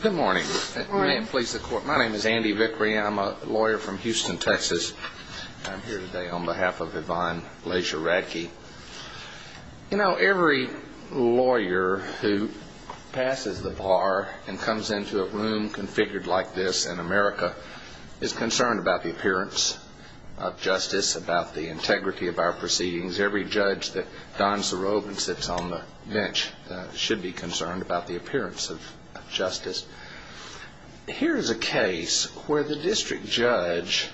Good morning. My name is Andy Vickrey. I'm a lawyer from Houston, Texas. I'm here today on behalf of Yvonne Laisure-Radke. You know, every lawyer who passes the bar and comes into a room configured like this in America is concerned about the appearance of justice, about the integrity of our proceedings. Every judge that dons the robe and sits on the bench should be concerned about the appearance of justice. Here is a case where the district judge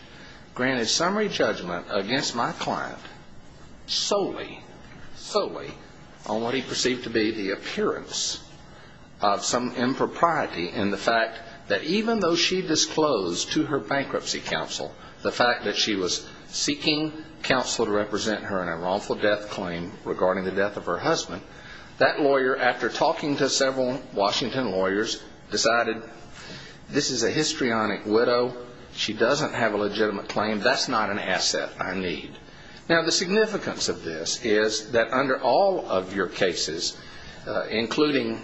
granted summary judgment against my client solely, solely, on what he perceived to be the appearance of some counsel to represent her in a wrongful death claim regarding the death of her husband. That lawyer, after talking to several Washington lawyers, decided, this is a histrionic widow. She doesn't have a legitimate claim. That's not an asset I need. Now, the significance of this is that under all of your cases, including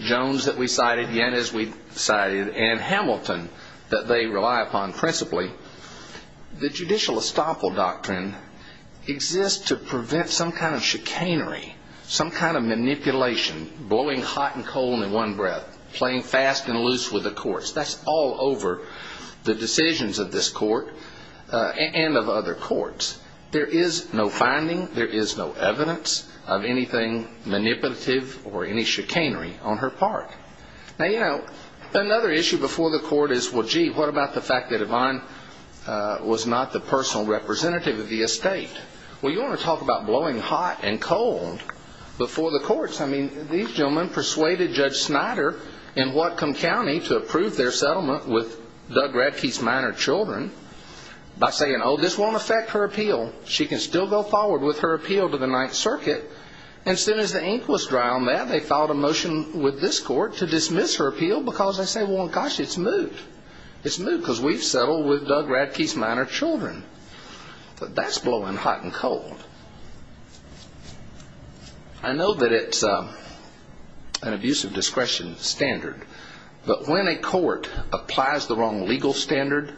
Jones that we cited, Yannis we cited, and Hamilton that they rely upon principally, the judicial estoppel doctrine exists to prevent some kind of chicanery, some kind of manipulation, blowing hot and cold in one breath, playing fast and loose with the courts. That's all over the decisions of this court and of other courts. There is no finding, there is no evidence of anything manipulative or any chicanery on her part. Now, you know, another issue before the court is, well, gee, what about the fact that Yvonne was not the personal representative of the estate? Well, you want to talk about blowing hot and cold before the courts? I mean, these gentlemen persuaded Judge Snyder in Whatcom County to approve their settlement with Doug Radke's minor children by saying, oh, this won't affect her appeal. She can still go forward with her appeal to the Ninth Circuit. And as soon as the ink was dry on that, they filed a motion with this court to dismiss her appeal because they say, well, gosh, it's moot. It's moot because we've settled with Doug Radke's minor children. But that's blowing hot and cold. I know that it's an abuse of discretion standard, but when a court applies the wrong legal standard,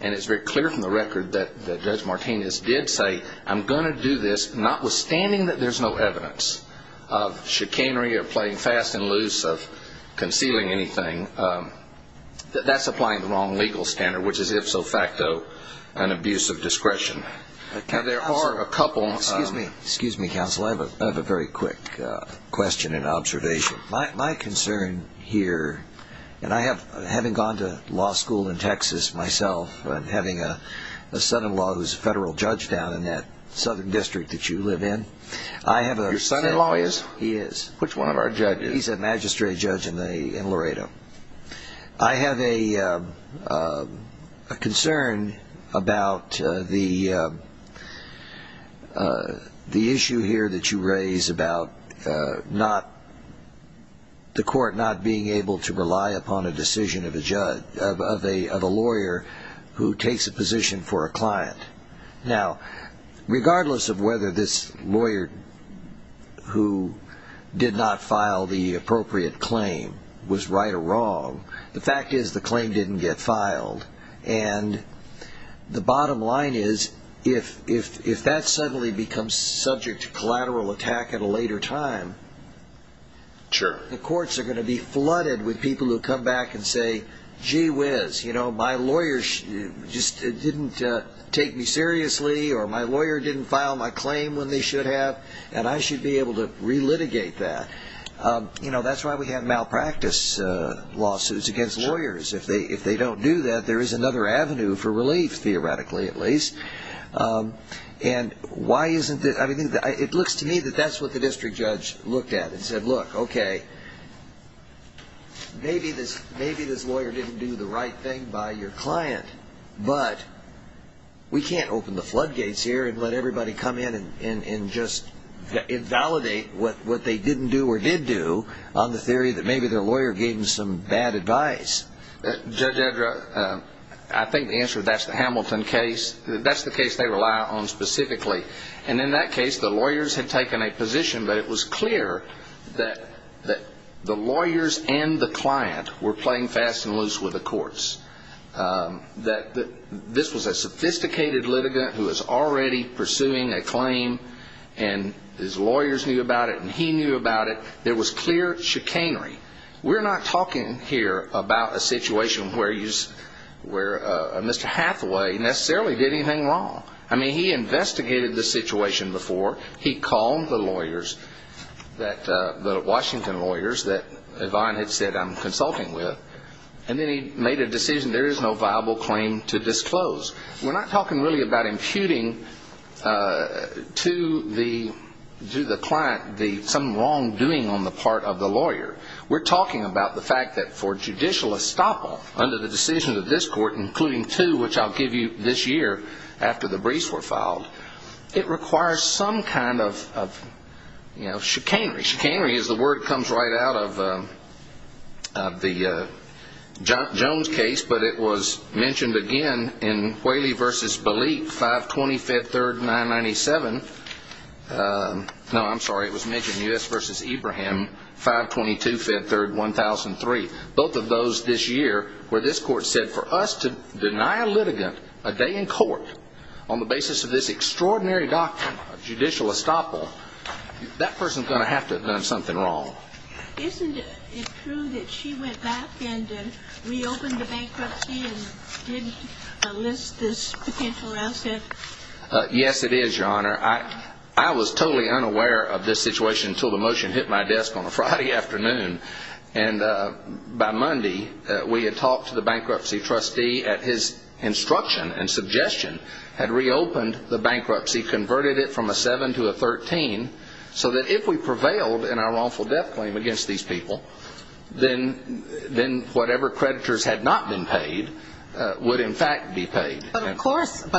and it's very clear from the record that Judge Martinez did say, I'm going to do this, notwithstanding that there's no evidence of chicanery or playing fast and loose, of concealing anything, that that's applying the wrong legal standard, which is, if so facto, an abuse of discretion. Excuse me, counsel. I have a very quick question and observation. My concern here, and I have, having gone to law school in Texas myself and having a son-in-law who's a federal judge down in that southern district that you live in. Your son-in-law is? He is. Which one of our judges? He's a magistrate judge in Laredo. I have a concern about the issue here that you raise about the court not being able to rely upon a decision of a lawyer who takes a position for a client. Now, regardless of whether this lawyer who did not file the appropriate claim was right or wrong, the fact is the claim didn't get filed. And the bottom line is, if that suddenly becomes subject to collateral attack at a later time, the courts are going to be flooded with people who come back and say, gee whiz, my lawyer just didn't take me seriously, or my lawyer didn't file my claim when they should have, and I should be able to relitigate that. That's why we have malpractice lawsuits against lawyers. If they don't do that, there is another avenue for relief, theoretically at least. It looks to me that that's what the district judge looked at and said, look, okay, maybe this lawyer didn't do the right thing by your client, but we can't open the floodgates here and let everybody come in and just invalidate what they didn't do or did do on the theory that maybe their lawyer gave them some bad advice. Judge Edra, I think the answer to that is the Hamilton case. That's the case they rely on specifically. And in that case, the lawyers had taken a position, but it was clear that the lawyers and the client were playing fast and loose with the courts. This was a sophisticated litigant who was already pursuing a claim, and his lawyers knew about it and he knew about it. There was clear chicanery. We're not talking here about a situation where Mr. Hathaway necessarily did anything wrong. I mean, he investigated the situation before. He called the lawyers, the Washington lawyers that Yvonne had said I'm consulting with, and then he made a decision there is no viable claim to disclose. We're not talking really about imputing to the client some wrongdoing on the part of the lawyer. We're talking about the fact that for judicial estoppel under the decisions of this court, including two which I'll give you this year after the briefs were filed, it requires some kind of chicanery. Chicanery is the word that comes right out of the Jones case, but it was mentioned again in Whaley v. Balik, 520 Fed Third 997. No, I'm sorry. It was mentioned in U.S. v. Abraham, 522 Fed Third 1003. Both of those this year where this court said for us to deny a litigant a day in court on the basis of this extraordinary doctrine of judicial estoppel, that person's going to have to have done something wrong. Isn't it true that she went back and reopened the bankruptcy and did enlist this potential asset? Yes, it is, Your Honor. I was totally unaware of this situation until the motion hit my desk on a Friday afternoon. And by Monday, we had talked to the bankruptcy trustee at his instruction and suggestion, had reopened the bankruptcy, converted it from a 7 to a 13, so that if we prevailed in our wrongful death claim against these people, then whatever creditors had not been paid would in fact be paid. But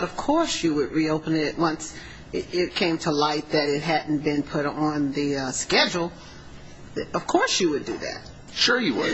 of course you would reopen it once it came to light that it hadn't been put on the schedule. Of course you would do that. Sure you would.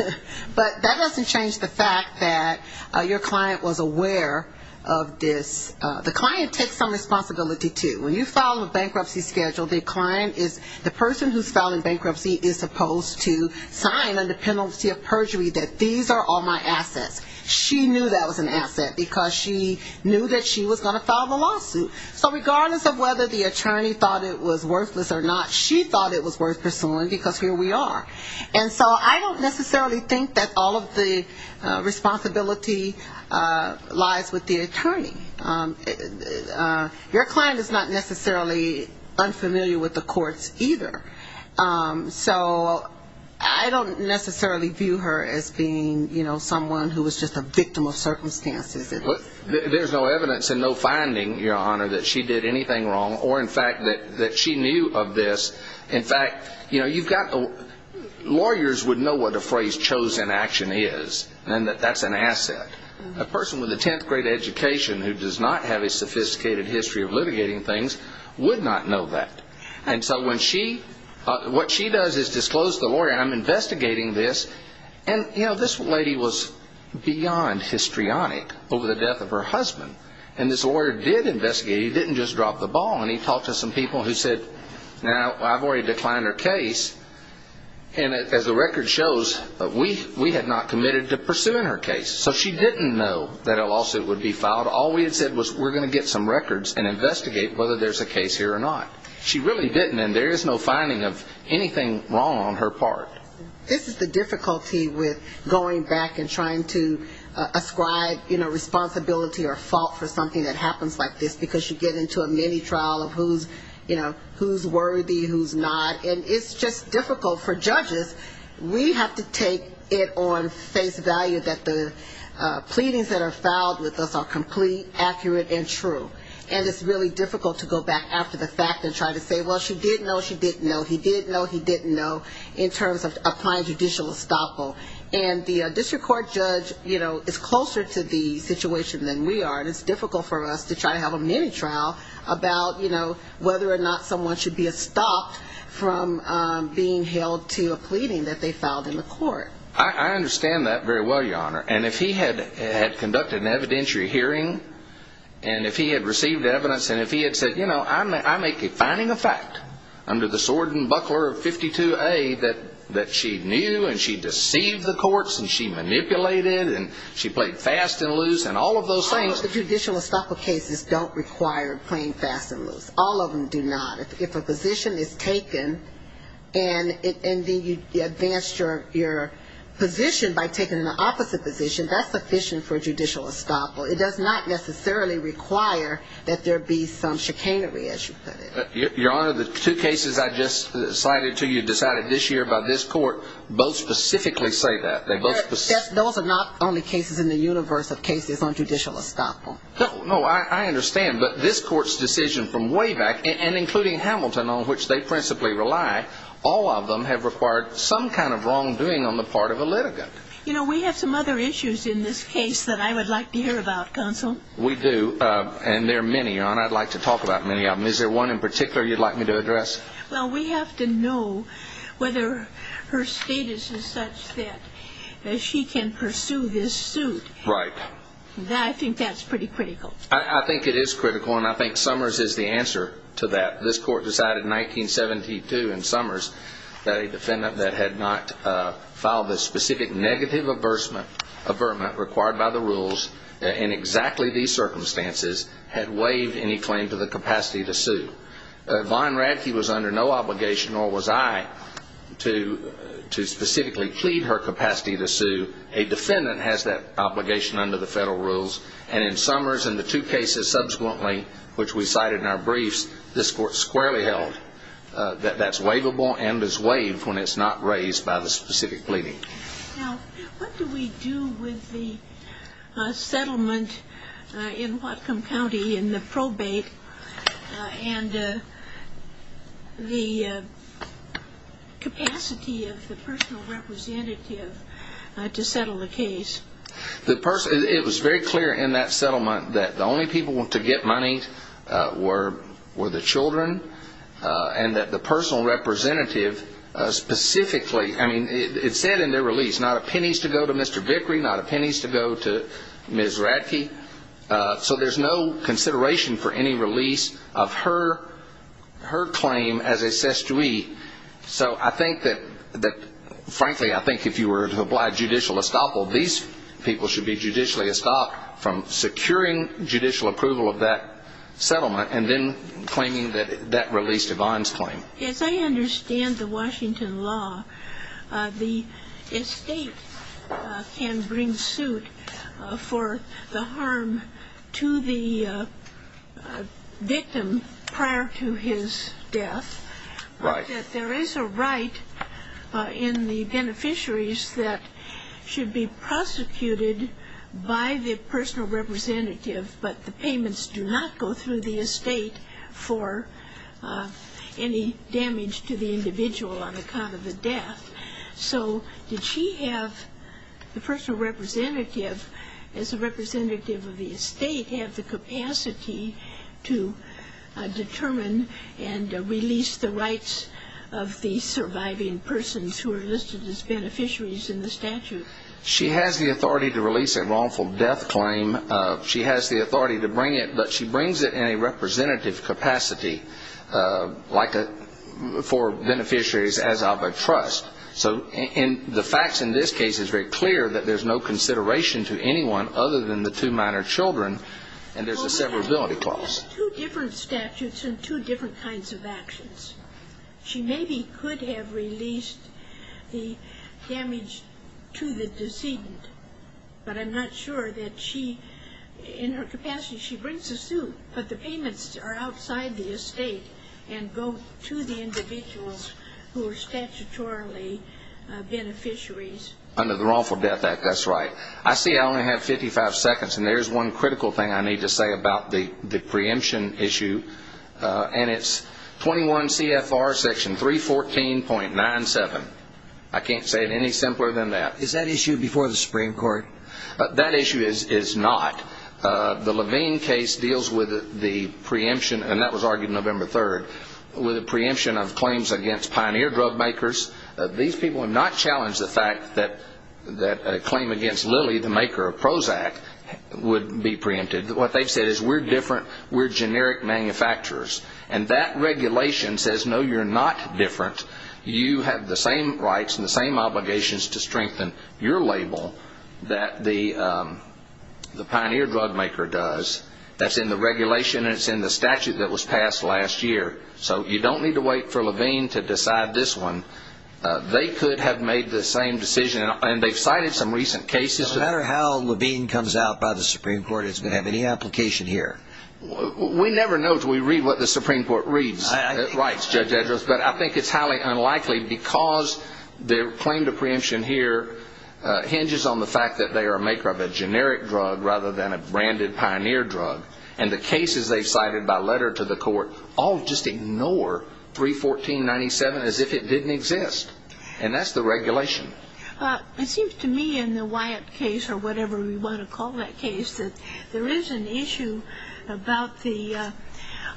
But that doesn't change the fact that your client was aware of this. The client takes some responsibility, too. When you file a bankruptcy schedule, the person who's filing bankruptcy is supposed to sign under penalty of perjury that these are all my assets. She knew that was an asset because she knew that she was going to file the lawsuit. So regardless of whether the attorney thought it was worthless or not, she thought it was worth pursuing because here we are. And so I don't necessarily think that all of the responsibility lies with the attorney. Your client is not necessarily unfamiliar with the courts either. So I don't necessarily view her as being, you know, someone who was just a victim of circumstances. There's no evidence and no finding, Your Honor, that she did anything wrong or in fact that she knew of this. In fact, you know, you've got lawyers would know what a phrase chosen action is and that that's an asset. A person with a 10th grade education who does not have a sophisticated history of litigating things would not know that. And so what she does is disclose to the lawyer, and I'm investigating this. And, you know, this lady was beyond histrionic over the death of her husband. And this lawyer did investigate. He didn't just drop the ball. And he talked to some people who said, now, I've already declined her case. And as the record shows, we had not committed to pursuing her case. So she didn't know that a lawsuit would be filed. All we had said was we're going to get some records and investigate whether there's a case here or not. She really didn't, and there is no finding of anything wrong on her part. This is the difficulty with going back and trying to ascribe, you know, responsibility or fault for something that happens like this, because you get into a mini trial of who's, you know, who's worthy, who's not. And it's just difficult for judges. We have to take it on face value that the pleadings that are filed with us are complete, accurate, and true. And it's really difficult to go back after the fact and try to say, well, she did know, she didn't know, he did know, he didn't know, in terms of applying judicial estoppel. And the district court judge, you know, is closer to the situation than we are, and it's difficult for us to try to have a mini trial about, you know, whether or not someone should be estopped from being held to a pleading that they filed in the court. I understand that very well, Your Honor. And if he had conducted an evidentiary hearing and if he had received evidence and if he had said, you know, I make a finding of fact under the sword and buckler of 52A that she knew and she deceived the courts and she manipulated and she played fast and loose and all of those things. All of the judicial estoppel cases don't require playing fast and loose. All of them do not. If a position is taken and then you advance your position by taking an opposite position, that's sufficient for judicial estoppel. It does not necessarily require that there be some chicanery, as you put it. Your Honor, the two cases I just cited to you decided this year by this court both specifically say that. Those are not only cases in the universe of cases on judicial estoppel. No, I understand. But this court's decision from way back, and including Hamilton, on which they principally rely, all of them have required some kind of wrongdoing on the part of a litigant. You know, we have some other issues in this case that I would like to hear about, Counsel. We do, and there are many, Your Honor. I'd like to talk about many of them. Is there one in particular you'd like me to address? Well, we have to know whether her status is such that she can pursue this suit. Right. I think that's pretty critical. I think it is critical, and I think Summers is the answer to that. This court decided in 1972 in Summers that a defendant that had not filed a specific negative avertment required by the rules in exactly these circumstances had waived any claim to the capacity to sue. Von Radke was under no obligation, nor was I, to specifically plead her capacity to sue. A defendant has that obligation under the federal rules, and in Summers and the two cases subsequently, which we cited in our briefs, this court squarely held that that's waivable and is waived when it's not raised by the specific pleading. Now, what do we do with the settlement in Whatcom County in the probate and the capacity of the personal representative to sue? It was very clear in that settlement that the only people to get money were the children, and that the personal representative specifically, I mean, it said in their release, not a pennies to go to Mr. Vickery, not a pennies to go to Ms. Radke, so there's no consideration for any release of her claim as a sestouille. So I think that, frankly, I think if you were to apply judicial estoppel, these people should be judicially estopped from securing judicial approval of that settlement and then claiming that that released Yvonne's claim. As I understand the Washington law, the estate can bring suit for the harm to the victim prior to his death, but there is a right in the beneficiaries that should be prosecuted by the personal representative, but the payments do not go through the estate for any damage to the individual on account of the death. So did she have, the personal representative, as a representative of the estate have the capacity to determine and release the rights of the surviving persons who are listed as beneficiaries in the statute? She has the authority to release a wrongful death claim. She has the authority to bring it, but she brings it in a representative capacity, like for beneficiaries as of a trust. So the facts in this case is very clear that there's no consideration to anyone other than the two minor children, and there's a severability clause. There's two different statutes and two different kinds of actions. She maybe could have released the damage to the decedent, but I'm not sure that she, in her capacity, she brings a suit, but the payments are outside the estate and go to the individuals who are statutorily beneficiaries. Under the Wrongful Death Act, that's right. It's a preemption issue, and it's 21 CFR section 314.97. I can't say it any simpler than that. Is that issue before the Supreme Court? That issue is not. The Levine case deals with the preemption, and that was argued November 3rd, with a preemption of claims against Pioneer Drugmakers. These people have not challenged the fact that a claim against Lilly, the maker of Prozac, would be preempted. What they've said is, we're different, we're generic manufacturers, and that regulation says, no, you're not different. You have the same rights and the same obligations to strengthen your label that the Pioneer Drugmaker does. That's in the regulation, and it's in the statute that was passed last year. So you don't need to wait for Levine to decide this one. They could have made the same decision, and they've cited some recent cases. No matter how Levine comes out by the Supreme Court, it's going to have any application here. We never know until we read what the Supreme Court reads. But I think it's highly unlikely, because the claim to preemption here hinges on the fact that they are a maker of a generic drug rather than a branded Pioneer drug. And the cases they've cited by letter to the court all just ignore 314.97 as if it didn't exist. And that's the regulation. It seems to me in the Wyatt case, or whatever we want to call that case, that there is an issue about the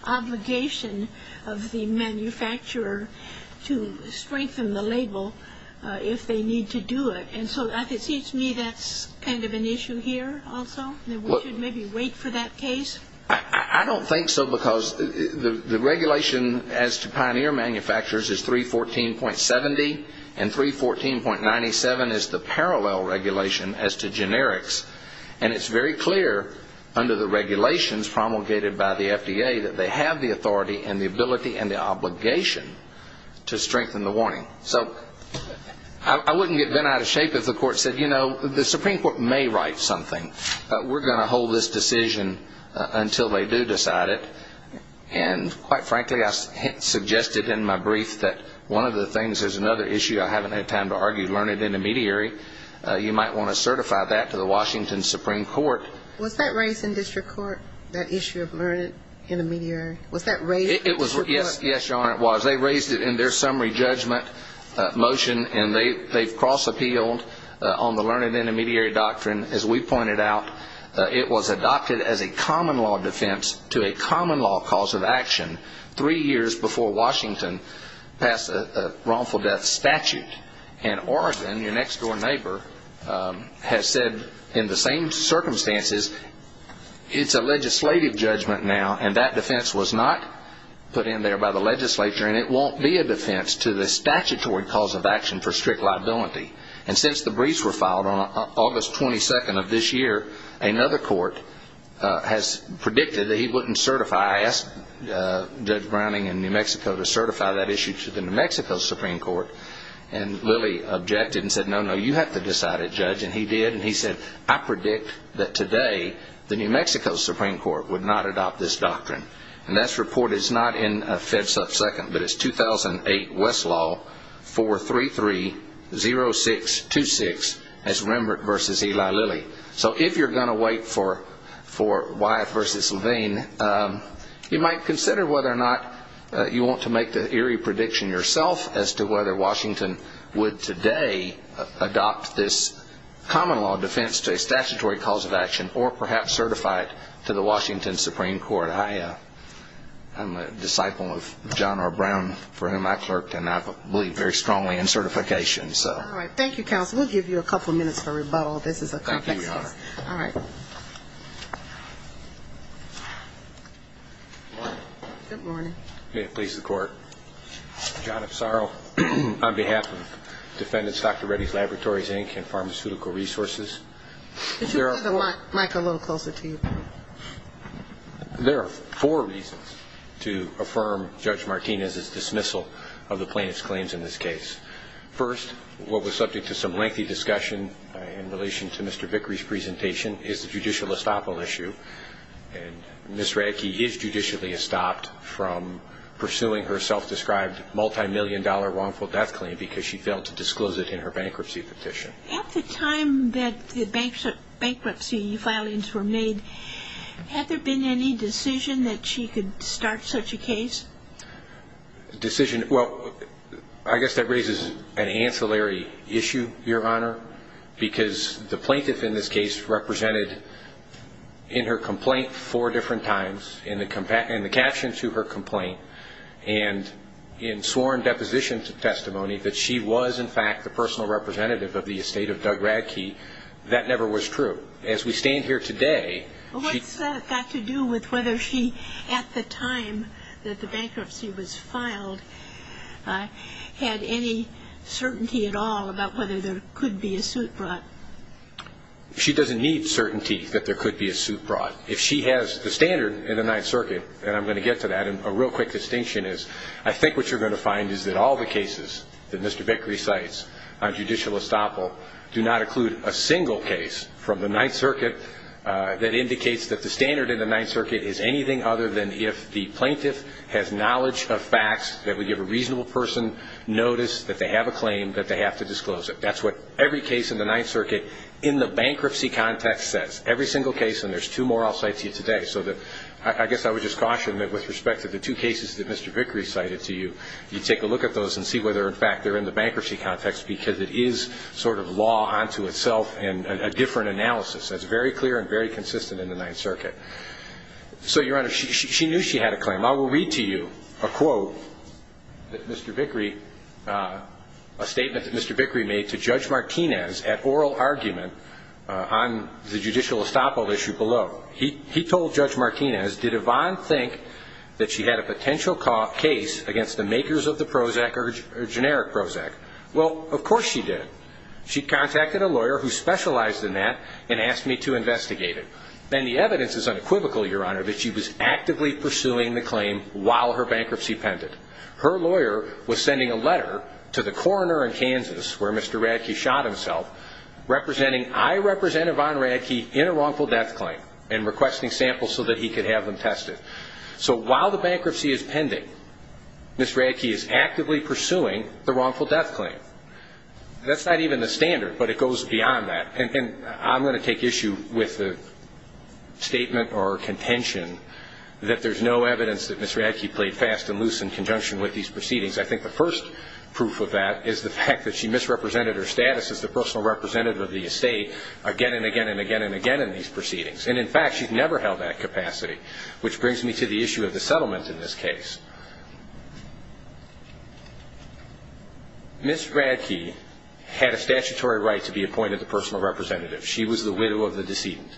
obligation of the manufacturer to strengthen the label if they need to do it. And so it seems to me that's kind of an issue here also, that we should maybe wait for that case? I don't think so, because the regulation as to Pioneer manufacturers is 314.67. And 314.97 is the parallel regulation as to generics. And it's very clear under the regulations promulgated by the FDA that they have the authority and the ability and the obligation to strengthen the warning. So I wouldn't get bent out of shape if the court said, you know, the Supreme Court may write something. We're going to hold this decision until they do decide it. And quite frankly, I suggested in my brief that one of the things, there's another issue I haven't had time to argue, learned intermediary. You might want to certify that to the Washington Supreme Court. Was that raised in district court, that issue of learned intermediary? Yes, Your Honor, it was. They raised it in their summary judgment motion, and they've cross-appealed on the learned intermediary doctrine. And as we pointed out, it was adopted as a common law defense to a common law cause of action three years before Washington passed a wrongful death statute. And Orison, your next-door neighbor, has said in the same circumstances, it's a legislative judgment now, and that defense was not put in there by the legislature. And it won't be a defense to the statutory cause of action for strict liability. And since the briefs were filed on August 22nd of this year, another court has predicted that he wouldn't certify. I asked Judge Browning in New Mexico to certify that issue to the New Mexico Supreme Court. And Lillie objected and said, no, no, you have to decide it, Judge. And he did, and he said, I predict that today the New Mexico Supreme Court would not adopt this doctrine. And that's reported, it's not in FEDSUP 2nd, but it's 2008 Westlaw 433-071. And that's reported in FEDSUP 2nd, but it's 2008 Westlaw 433-071. So if you're going to wait for Wyeth v. Levine, you might consider whether or not you want to make the eerie prediction yourself as to whether Washington would today adopt this common law defense to a statutory cause of action, or perhaps certify it to the Washington Supreme Court. I'm a disciple of John R. Brown, for whom I clerked, and I believe very strongly in certification. Thank you, counsel. We'll give you a couple minutes for rebuttal. This is a complex case. Good morning. May it please the Court. John F. Sorrow, on behalf of defendants Dr. Reddy's Laboratories, Inc., and Pharmaceutical Resources. Could you put the mic a little closer to you? There are four reasons to affirm Judge Martinez's dismissal of the plaintiff's claims in this case. First, what was subject to some lengthy discussion in relation to Mr. Vickery's presentation is the judicial estoppel issue. And Ms. Radke is judicially estopped from pursuing her self-described multimillion-dollar wrongful death claim because she failed to disclose it in her bankruptcy petition. At the time that the bankruptcy filings were made, had there been any decision that she could start such a case? Well, I guess that raises an ancillary issue, Your Honor, because the plaintiff in this case represented in her complaint four different times. In the caption to her complaint and in sworn deposition testimony that she was, in fact, the personal representative of the estate of Doug Radke, that never was true. As we stand here today... And I'm going to get to that. And a real quick distinction is I think what you're going to find is that all the cases that Mr. Vickery cites on judicial estoppel do not include a single case from the Ninth Circuit that indicates that the standard in the Ninth Circuit is anything other than if the plaintiff has not filed a suit. That's what every case in the Ninth Circuit in the bankruptcy context says. Every single case, and there's two more I'll cite to you today, so I guess I would just caution that with respect to the two cases that Mr. Vickery cited to you, you take a look at those and see whether, in fact, they're in the bankruptcy context because it is sort of law unto itself and a different analysis. That's very clear and very consistent in the Ninth Circuit. I'm going to quote a statement that Mr. Vickery made to Judge Martinez at oral argument on the judicial estoppel issue below. He told Judge Martinez, did Yvonne think that she had a potential case against the makers of the Prozac or generic Prozac? Well, of course she did. She contacted a lawyer who specialized in that and asked me to investigate it. And I told him that Yvonne Radke was a bankruptcy pendant. Her lawyer was sending a letter to the coroner in Kansas where Mr. Radke shot himself representing, I represent Yvonne Radke in a wrongful death claim and requesting samples so that he could have them tested. So while the bankruptcy is pending, Ms. Radke is actively pursuing the wrongful death claim. That's not even the standard, but it goes beyond that. And I'm going to take issue with the statement or contention that there's no evidence that Ms. Radke played fast and loose in conjunction with these proceedings. I think the first proof of that is the fact that she misrepresented her status as the personal representative of the estate again and again and again and again in these proceedings. And, in fact, she's never held that capacity, which brings me to the issue of the settlement in this case. When Brianna Radke had a statutory right to be appointed the personal representative, she was the widow of the decedent.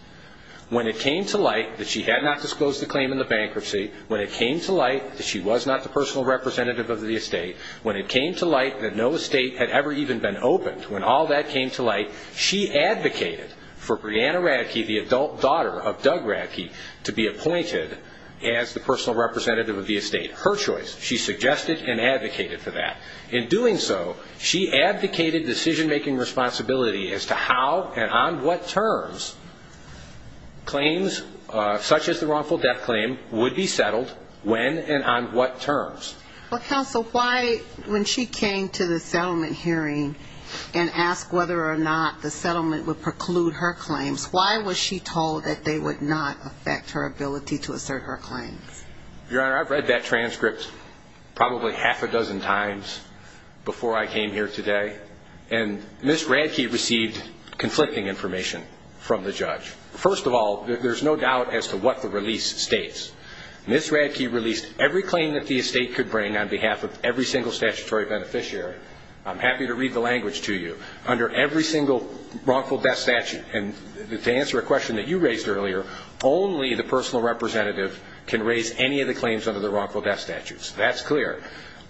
When it came to light that she had not disclosed the claim in the bankruptcy, when it came to light that she was not the personal representative of the estate, when it came to light that no estate had ever even been opened, when all that came to light, she advocated for Brianna Radke, the adult daughter of Doug Radke, to be appointed as the personal representative of the estate. Her choice. She suggested and advocated for that. In doing so, she advocated decision-making responsibility as to how and on what terms claims such as the wrongful death claim would be settled, when and on what terms. Well, counsel, why, when she came to the settlement hearing and asked whether or not the settlement would preclude her claims, why was she told that they would not affect her ability to assert her claims? Your Honor, I've read that transcript probably half a dozen times before I came here today, and Ms. Radke received conflicting information from the judge. First of all, there's no doubt as to what the release states. Ms. Radke released every claim that the estate could bring on behalf of every single statutory beneficiary. I'm happy to read the language to you. Under every single wrongful death statute, and to answer a question that you raised earlier, only the personal representative can raise any of the claims under the wrongful death statutes. That's clear.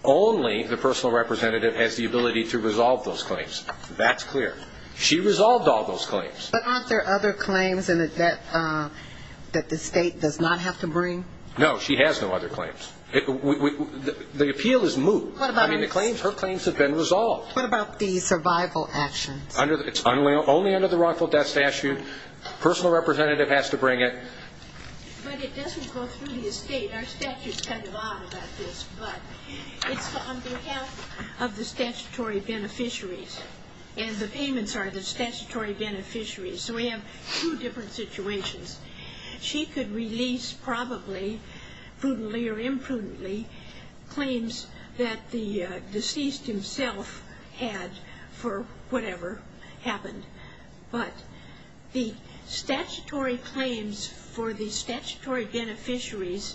Only the personal representative has the ability to resolve those claims. That's clear. She resolved all those claims. But aren't there other claims in the debt that the estate does not have to bring? No, she has no other claims. The appeal is moot. I mean, her claims have been resolved. What about the survival actions? It's only under the wrongful death statute. Personal representative has to bring it. But it doesn't go through the estate. I mean, our statutes tell you a lot about this, but it's on behalf of the statutory beneficiaries. And the payments are the statutory beneficiaries. So we have two different situations. She could release, probably, prudently or imprudently, claims that the deceased himself had for whatever happened. But the statutory claims for the statutory beneficiaries,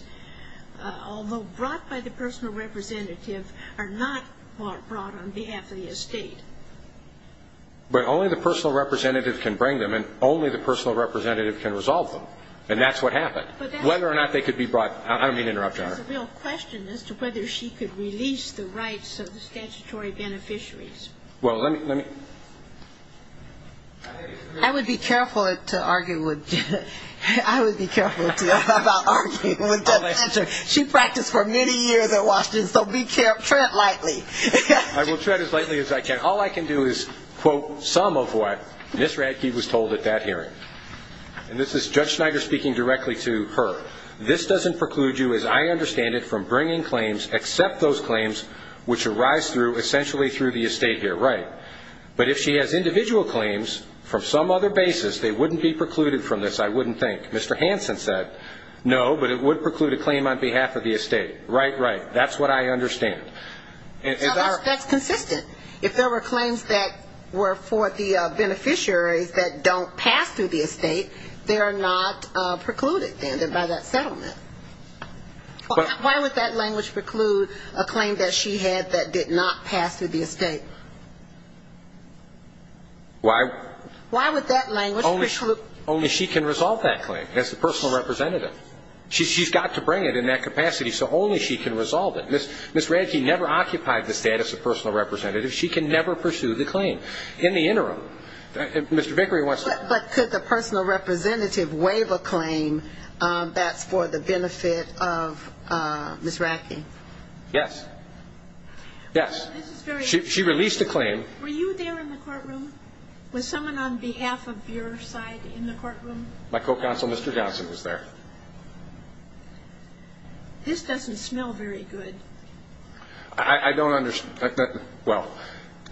although brought by the personal representative, are not brought on behalf of the estate. But only the personal representative can bring them, and only the personal representative can resolve them. And that's what happened. Whether or not they could be brought, I don't mean to interrupt, Your Honor. There's a real question as to whether she could release the rights of the statutory beneficiaries. I would be careful to argue with the statutory beneficiaries. She practiced for many years at Washington, so tread lightly. I will tread as lightly as I can. All I can do is quote some of what Ms. Radke was told at that hearing. And this is Judge Schneider speaking directly to her. This doesn't preclude you, as I understand it, from bringing claims except those claims which arise through, essentially, through the estate here. Right. But if she has individual claims from some other basis, they wouldn't be precluded from this, I wouldn't think. Mr. Hansen said, no, but it would preclude a claim on behalf of the estate. Right, right. That's what I understand. That's consistent. If there were claims that were for the beneficiaries that don't pass through the estate, they are not precluded, then, by that settlement. Why would that language preclude a claim that she had that did not pass through the estate? Why would that language preclude? Only she can resolve that claim as the personal representative. She's got to bring it in that capacity so only she can resolve it. Ms. Radke never occupied the status of personal representative. She can never pursue the claim in the interim. But could the personal representative waive a claim that's for the benefit of Ms. Radke? Yes. Yes. She released a claim. Were you there in the courtroom? Was someone on behalf of your side in the courtroom? My co-counsel, Mr. Johnson, was there. This doesn't smell very good.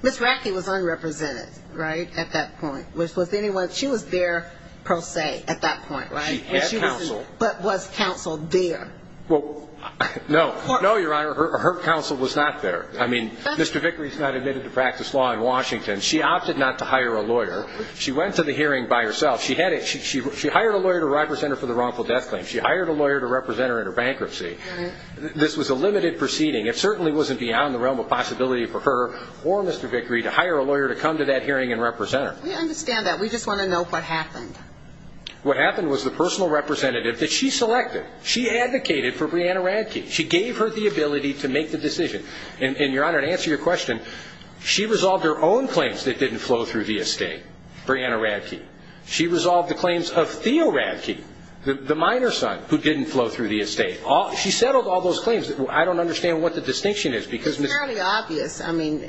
Ms. Radke was unrepresented, right, at that point. She was there per se at that point, right? But was counsel there? No, Your Honor. Her counsel was not there. I mean, Mr. Vickery's not admitted to practice law in Washington. She opted not to hire a lawyer. She went to the hearing by herself. She hired a lawyer to represent her for the wrongful death claim. She hired a lawyer to represent her in her bankruptcy. This was a limited proceeding. It certainly wasn't beyond the realm of possibility for her or Mr. Vickery to hire a lawyer to come to that hearing and represent her. We understand that. We just want to know what happened. What happened was the personal representative that she selected, she advocated for Breonna Radke. She gave her the ability to make the decision. And, Your Honor, to answer your question, she resolved her own claims that didn't flow through the estate, Breonna Radke. She resolved the claims of Theo Radke, the miner's son, who didn't flow through the estate. She settled all those claims. I don't understand what the distinction is. It's fairly obvious to me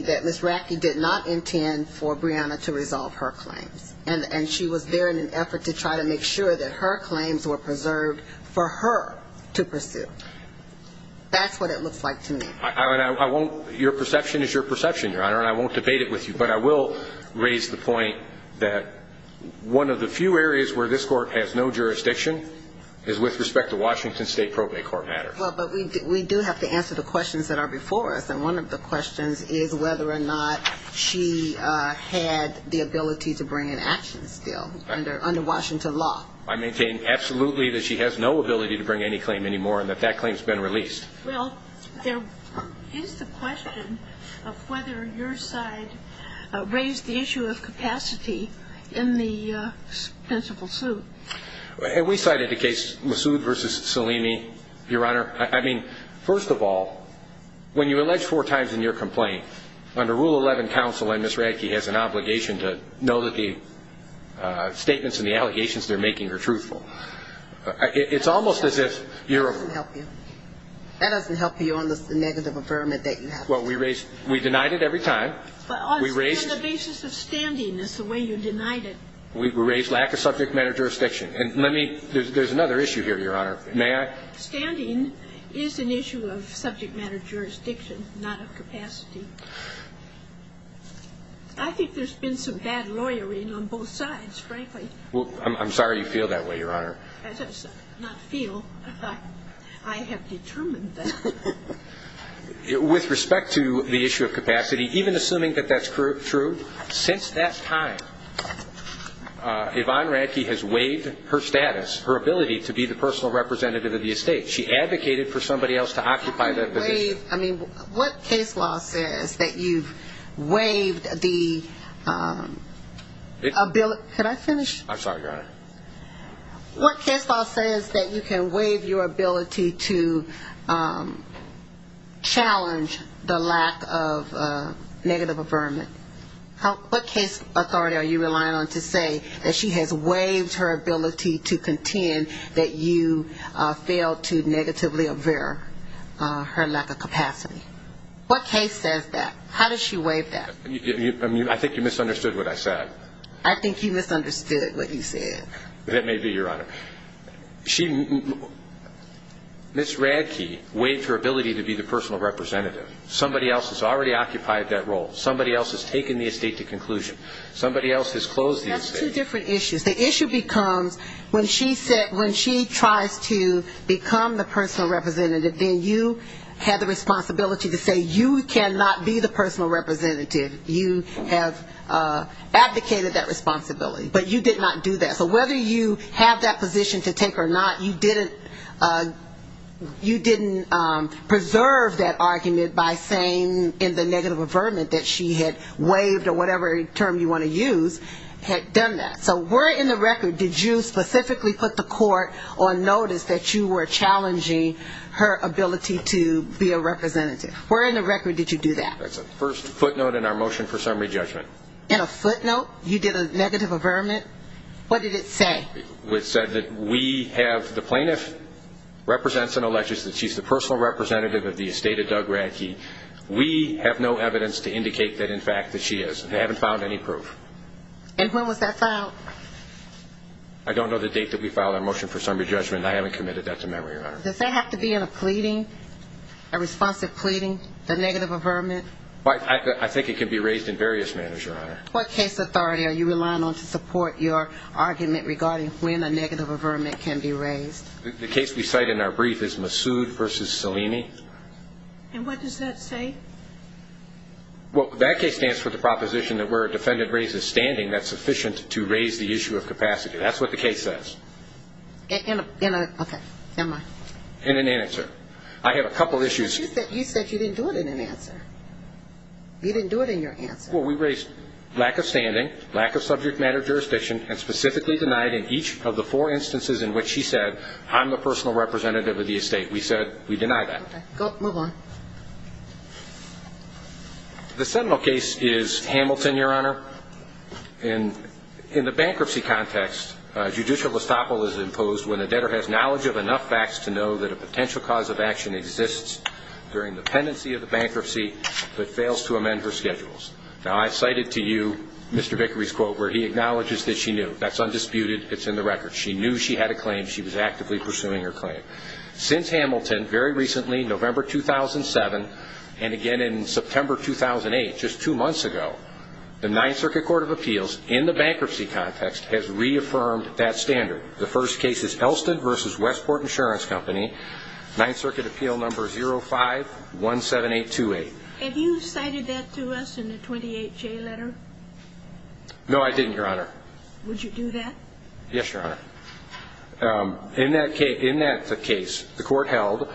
that Ms. Radke did not intend for Breonna to resolve her claims. And she was there in an effort to try to make sure that her claims were preserved for her to pursue. That's what it looks like to me. Your perception is your perception, Your Honor, and I won't debate it with you. But I will raise the point that one of the few areas where this Court has no jurisdiction is with respect to Washington State Probate Court matters. Well, but we do have to answer the questions that are before us. And one of the questions is whether or not she had the ability to bring an action still under Washington law. I maintain absolutely that she has no ability to bring any claim anymore and that that claim has been released. Well, there is the question of whether your side raised the issue of capacity in the principle suit. And we cited the case Massoud v. Salini, Your Honor. I mean, first of all, when you allege four times in your complaint, under Rule 11, counsel and Ms. Radke has an obligation to know that the statements and the allegations they're making are truthful. It's almost as if you're a fool. That doesn't help you on the negative affirmative that you have. Well, we raised – we denied it every time. But on the basis of standing is the way you denied it. We raised lack of subject matter jurisdiction. And let me – there's another issue here, Your Honor. May I? Standing is an issue of subject matter jurisdiction, not of capacity. I think there's been some bad lawyering on both sides, frankly. Well, I'm sorry you feel that way, Your Honor. Not feel. I have determined that. With respect to the issue of capacity, even assuming that that's true, since that time Yvonne Radke has waived her status, her ability to be the personal representative of the estate. She advocated for somebody else to occupy the – I mean, what case law says that you've waived the ability – could I finish? I'm sorry, Your Honor. What case law says that you can waive your ability to challenge the lack of negative affirmative? What case authority are you relying on to say that she has waived her ability to contend that you failed to negatively aver her lack of capacity? What case says that? How does she waive that? I think you misunderstood what I said. I think you misunderstood what you said. That may be, Your Honor. Ms. Radke waived her ability to be the personal representative. Somebody else has already occupied that role. Somebody else has taken the estate to conclusion. Somebody else has closed the estate. That's two different issues. The issue becomes when she tries to become the personal representative, then you have the responsibility to say you cannot be the personal representative. You have advocated that responsibility, but you did not do that. So whether you have that position to take or not, you didn't preserve that argument by saying in the negative affirmative that she had waived or whatever term you want to use, had done that. So where in the record did you specifically put the court on notice that you were challenging her ability to be a representative? Where in the record did you do that? That's the first footnote in our motion for summary judgment. In a footnote? You did a negative affirmative? What did it say? It said that we have the plaintiff represents an electrician. She's the personal representative of the estate of Doug Radke. We have no evidence to indicate that, in fact, that she is. They haven't found any proof. And when was that filed? I don't know the date that we filed our motion for summary judgment. I haven't committed that to memory, Your Honor. Does that have to be in a pleading, a responsive pleading, a negative affirmative? I think it can be raised in various manners, Your Honor. What case authority are you relying on to support your argument regarding when a negative affirmative can be raised? The case we cite in our brief is Massoud v. Salini. And what does that say? Well, that case stands for the proposition that where a defendant raises standing, that's sufficient to raise the issue of capacity. That's what the case says. Okay. Never mind. In an answer. I have a couple issues. You said you didn't do it in an answer. You didn't do it in your answer. Well, we raised lack of standing, lack of subject matter jurisdiction, and specifically denied in each of the four instances in which she said, I'm the personal representative of the estate. We said we deny that. Okay. Go ahead. Move on. The seminal case is Hamilton, Your Honor. In the bankruptcy context, judicial estoppel is imposed when a debtor has knowledge of enough facts to know that a potential cause of action exists during the pendency of the bankruptcy but fails to amend her schedules. Now, I cited to you Mr. Vickery's quote where he acknowledges that she knew. That's undisputed. It's in the record. She knew she had a claim. She was actively pursuing her claim. Since Hamilton, very recently, November 2007, and again in September 2008, just two months ago, the Ninth Circuit Court of Appeals in the bankruptcy context has reaffirmed that standard. The first case is Elston v. Westport Insurance Company, Ninth Circuit Appeal Number 05-17828. Have you cited that to us in the 28-J letter? No, I didn't, Your Honor. Would you do that? Yes, Your Honor. In that case, the court held,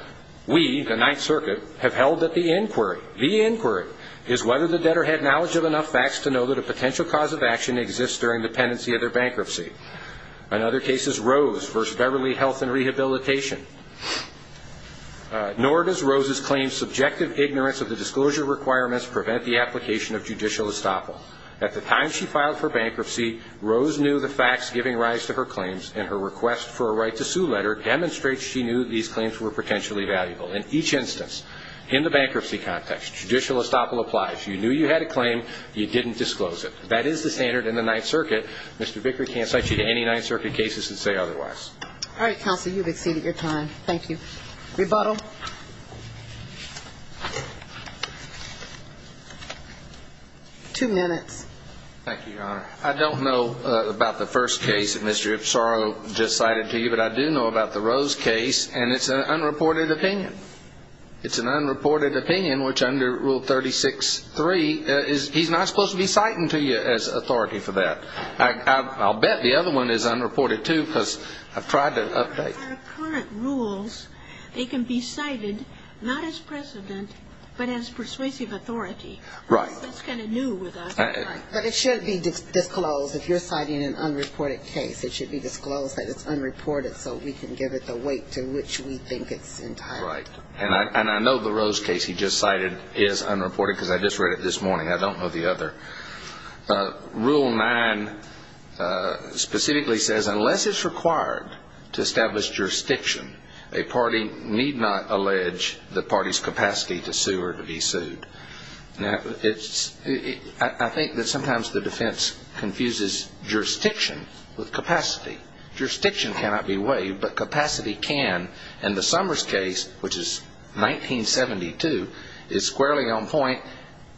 we, the Ninth Circuit, have held that the inquiry, the inquiry, is whether the debtor had knowledge of enough facts to know that a potential cause of action exists during the pendency of their bankruptcy. Another case is Rose v. Beverly Health and Rehabilitation. Nor does Rose's claim subjective ignorance of the disclosure requirements prevent the application of judicial estoppel. At the time she filed for bankruptcy, Rose knew the facts giving rise to her claims, and her request for a right to sue letter demonstrates she knew these claims were potentially valuable. In each instance, in the bankruptcy context, judicial estoppel applies. You knew you had a claim. You didn't disclose it. That is the standard in the Ninth Circuit. Mr. Vickery can't cite you to any Ninth Circuit cases and say otherwise. All right, counsel, you've exceeded your time. Thank you. Rebuttal. Two minutes. Thank you, Your Honor. I don't know about the first case that Mr. Ipsarro just cited to you, but I do know about the Rose case, and it's an unreported opinion. It's an unreported opinion, which under Rule 36.3, he's not supposed to be citing to you as authority for that. I'll bet the other one is unreported, too, because I've tried to update. Under our current rules, they can be cited not as precedent but as persuasive authority. Right. That's kind of new with us. But it shouldn't be disclosed if you're citing an unreported case. It should be disclosed that it's unreported so we can give it the weight to which we think it's entitled. Right. And I know the Rose case he just cited is unreported because I just read it this morning. I don't know the other. Rule 9 specifically says unless it's required to establish jurisdiction, a party need not allege the party's capacity to sue or to be sued. Now, I think that sometimes the defense confuses jurisdiction with capacity. Jurisdiction cannot be waived, but capacity can. And the Summers case, which is 1972, is squarely on point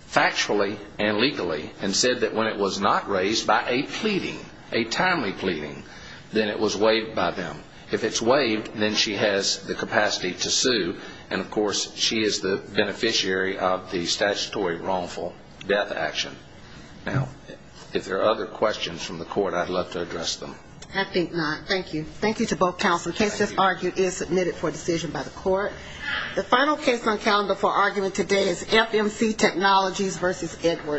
factually and legally and said that when it was not raised by a pleading, a timely pleading, then it was waived by them. If it's waived, then she has the capacity to sue, and, of course, she is the beneficiary of the statutory wrongful death action. Now, if there are other questions from the court, I'd love to address them. I think not. Thank you. Thank you to both counsel. The case just argued is submitted for decision by the court. The final case on calendar for argument today is FMC Technologies v. Edwards.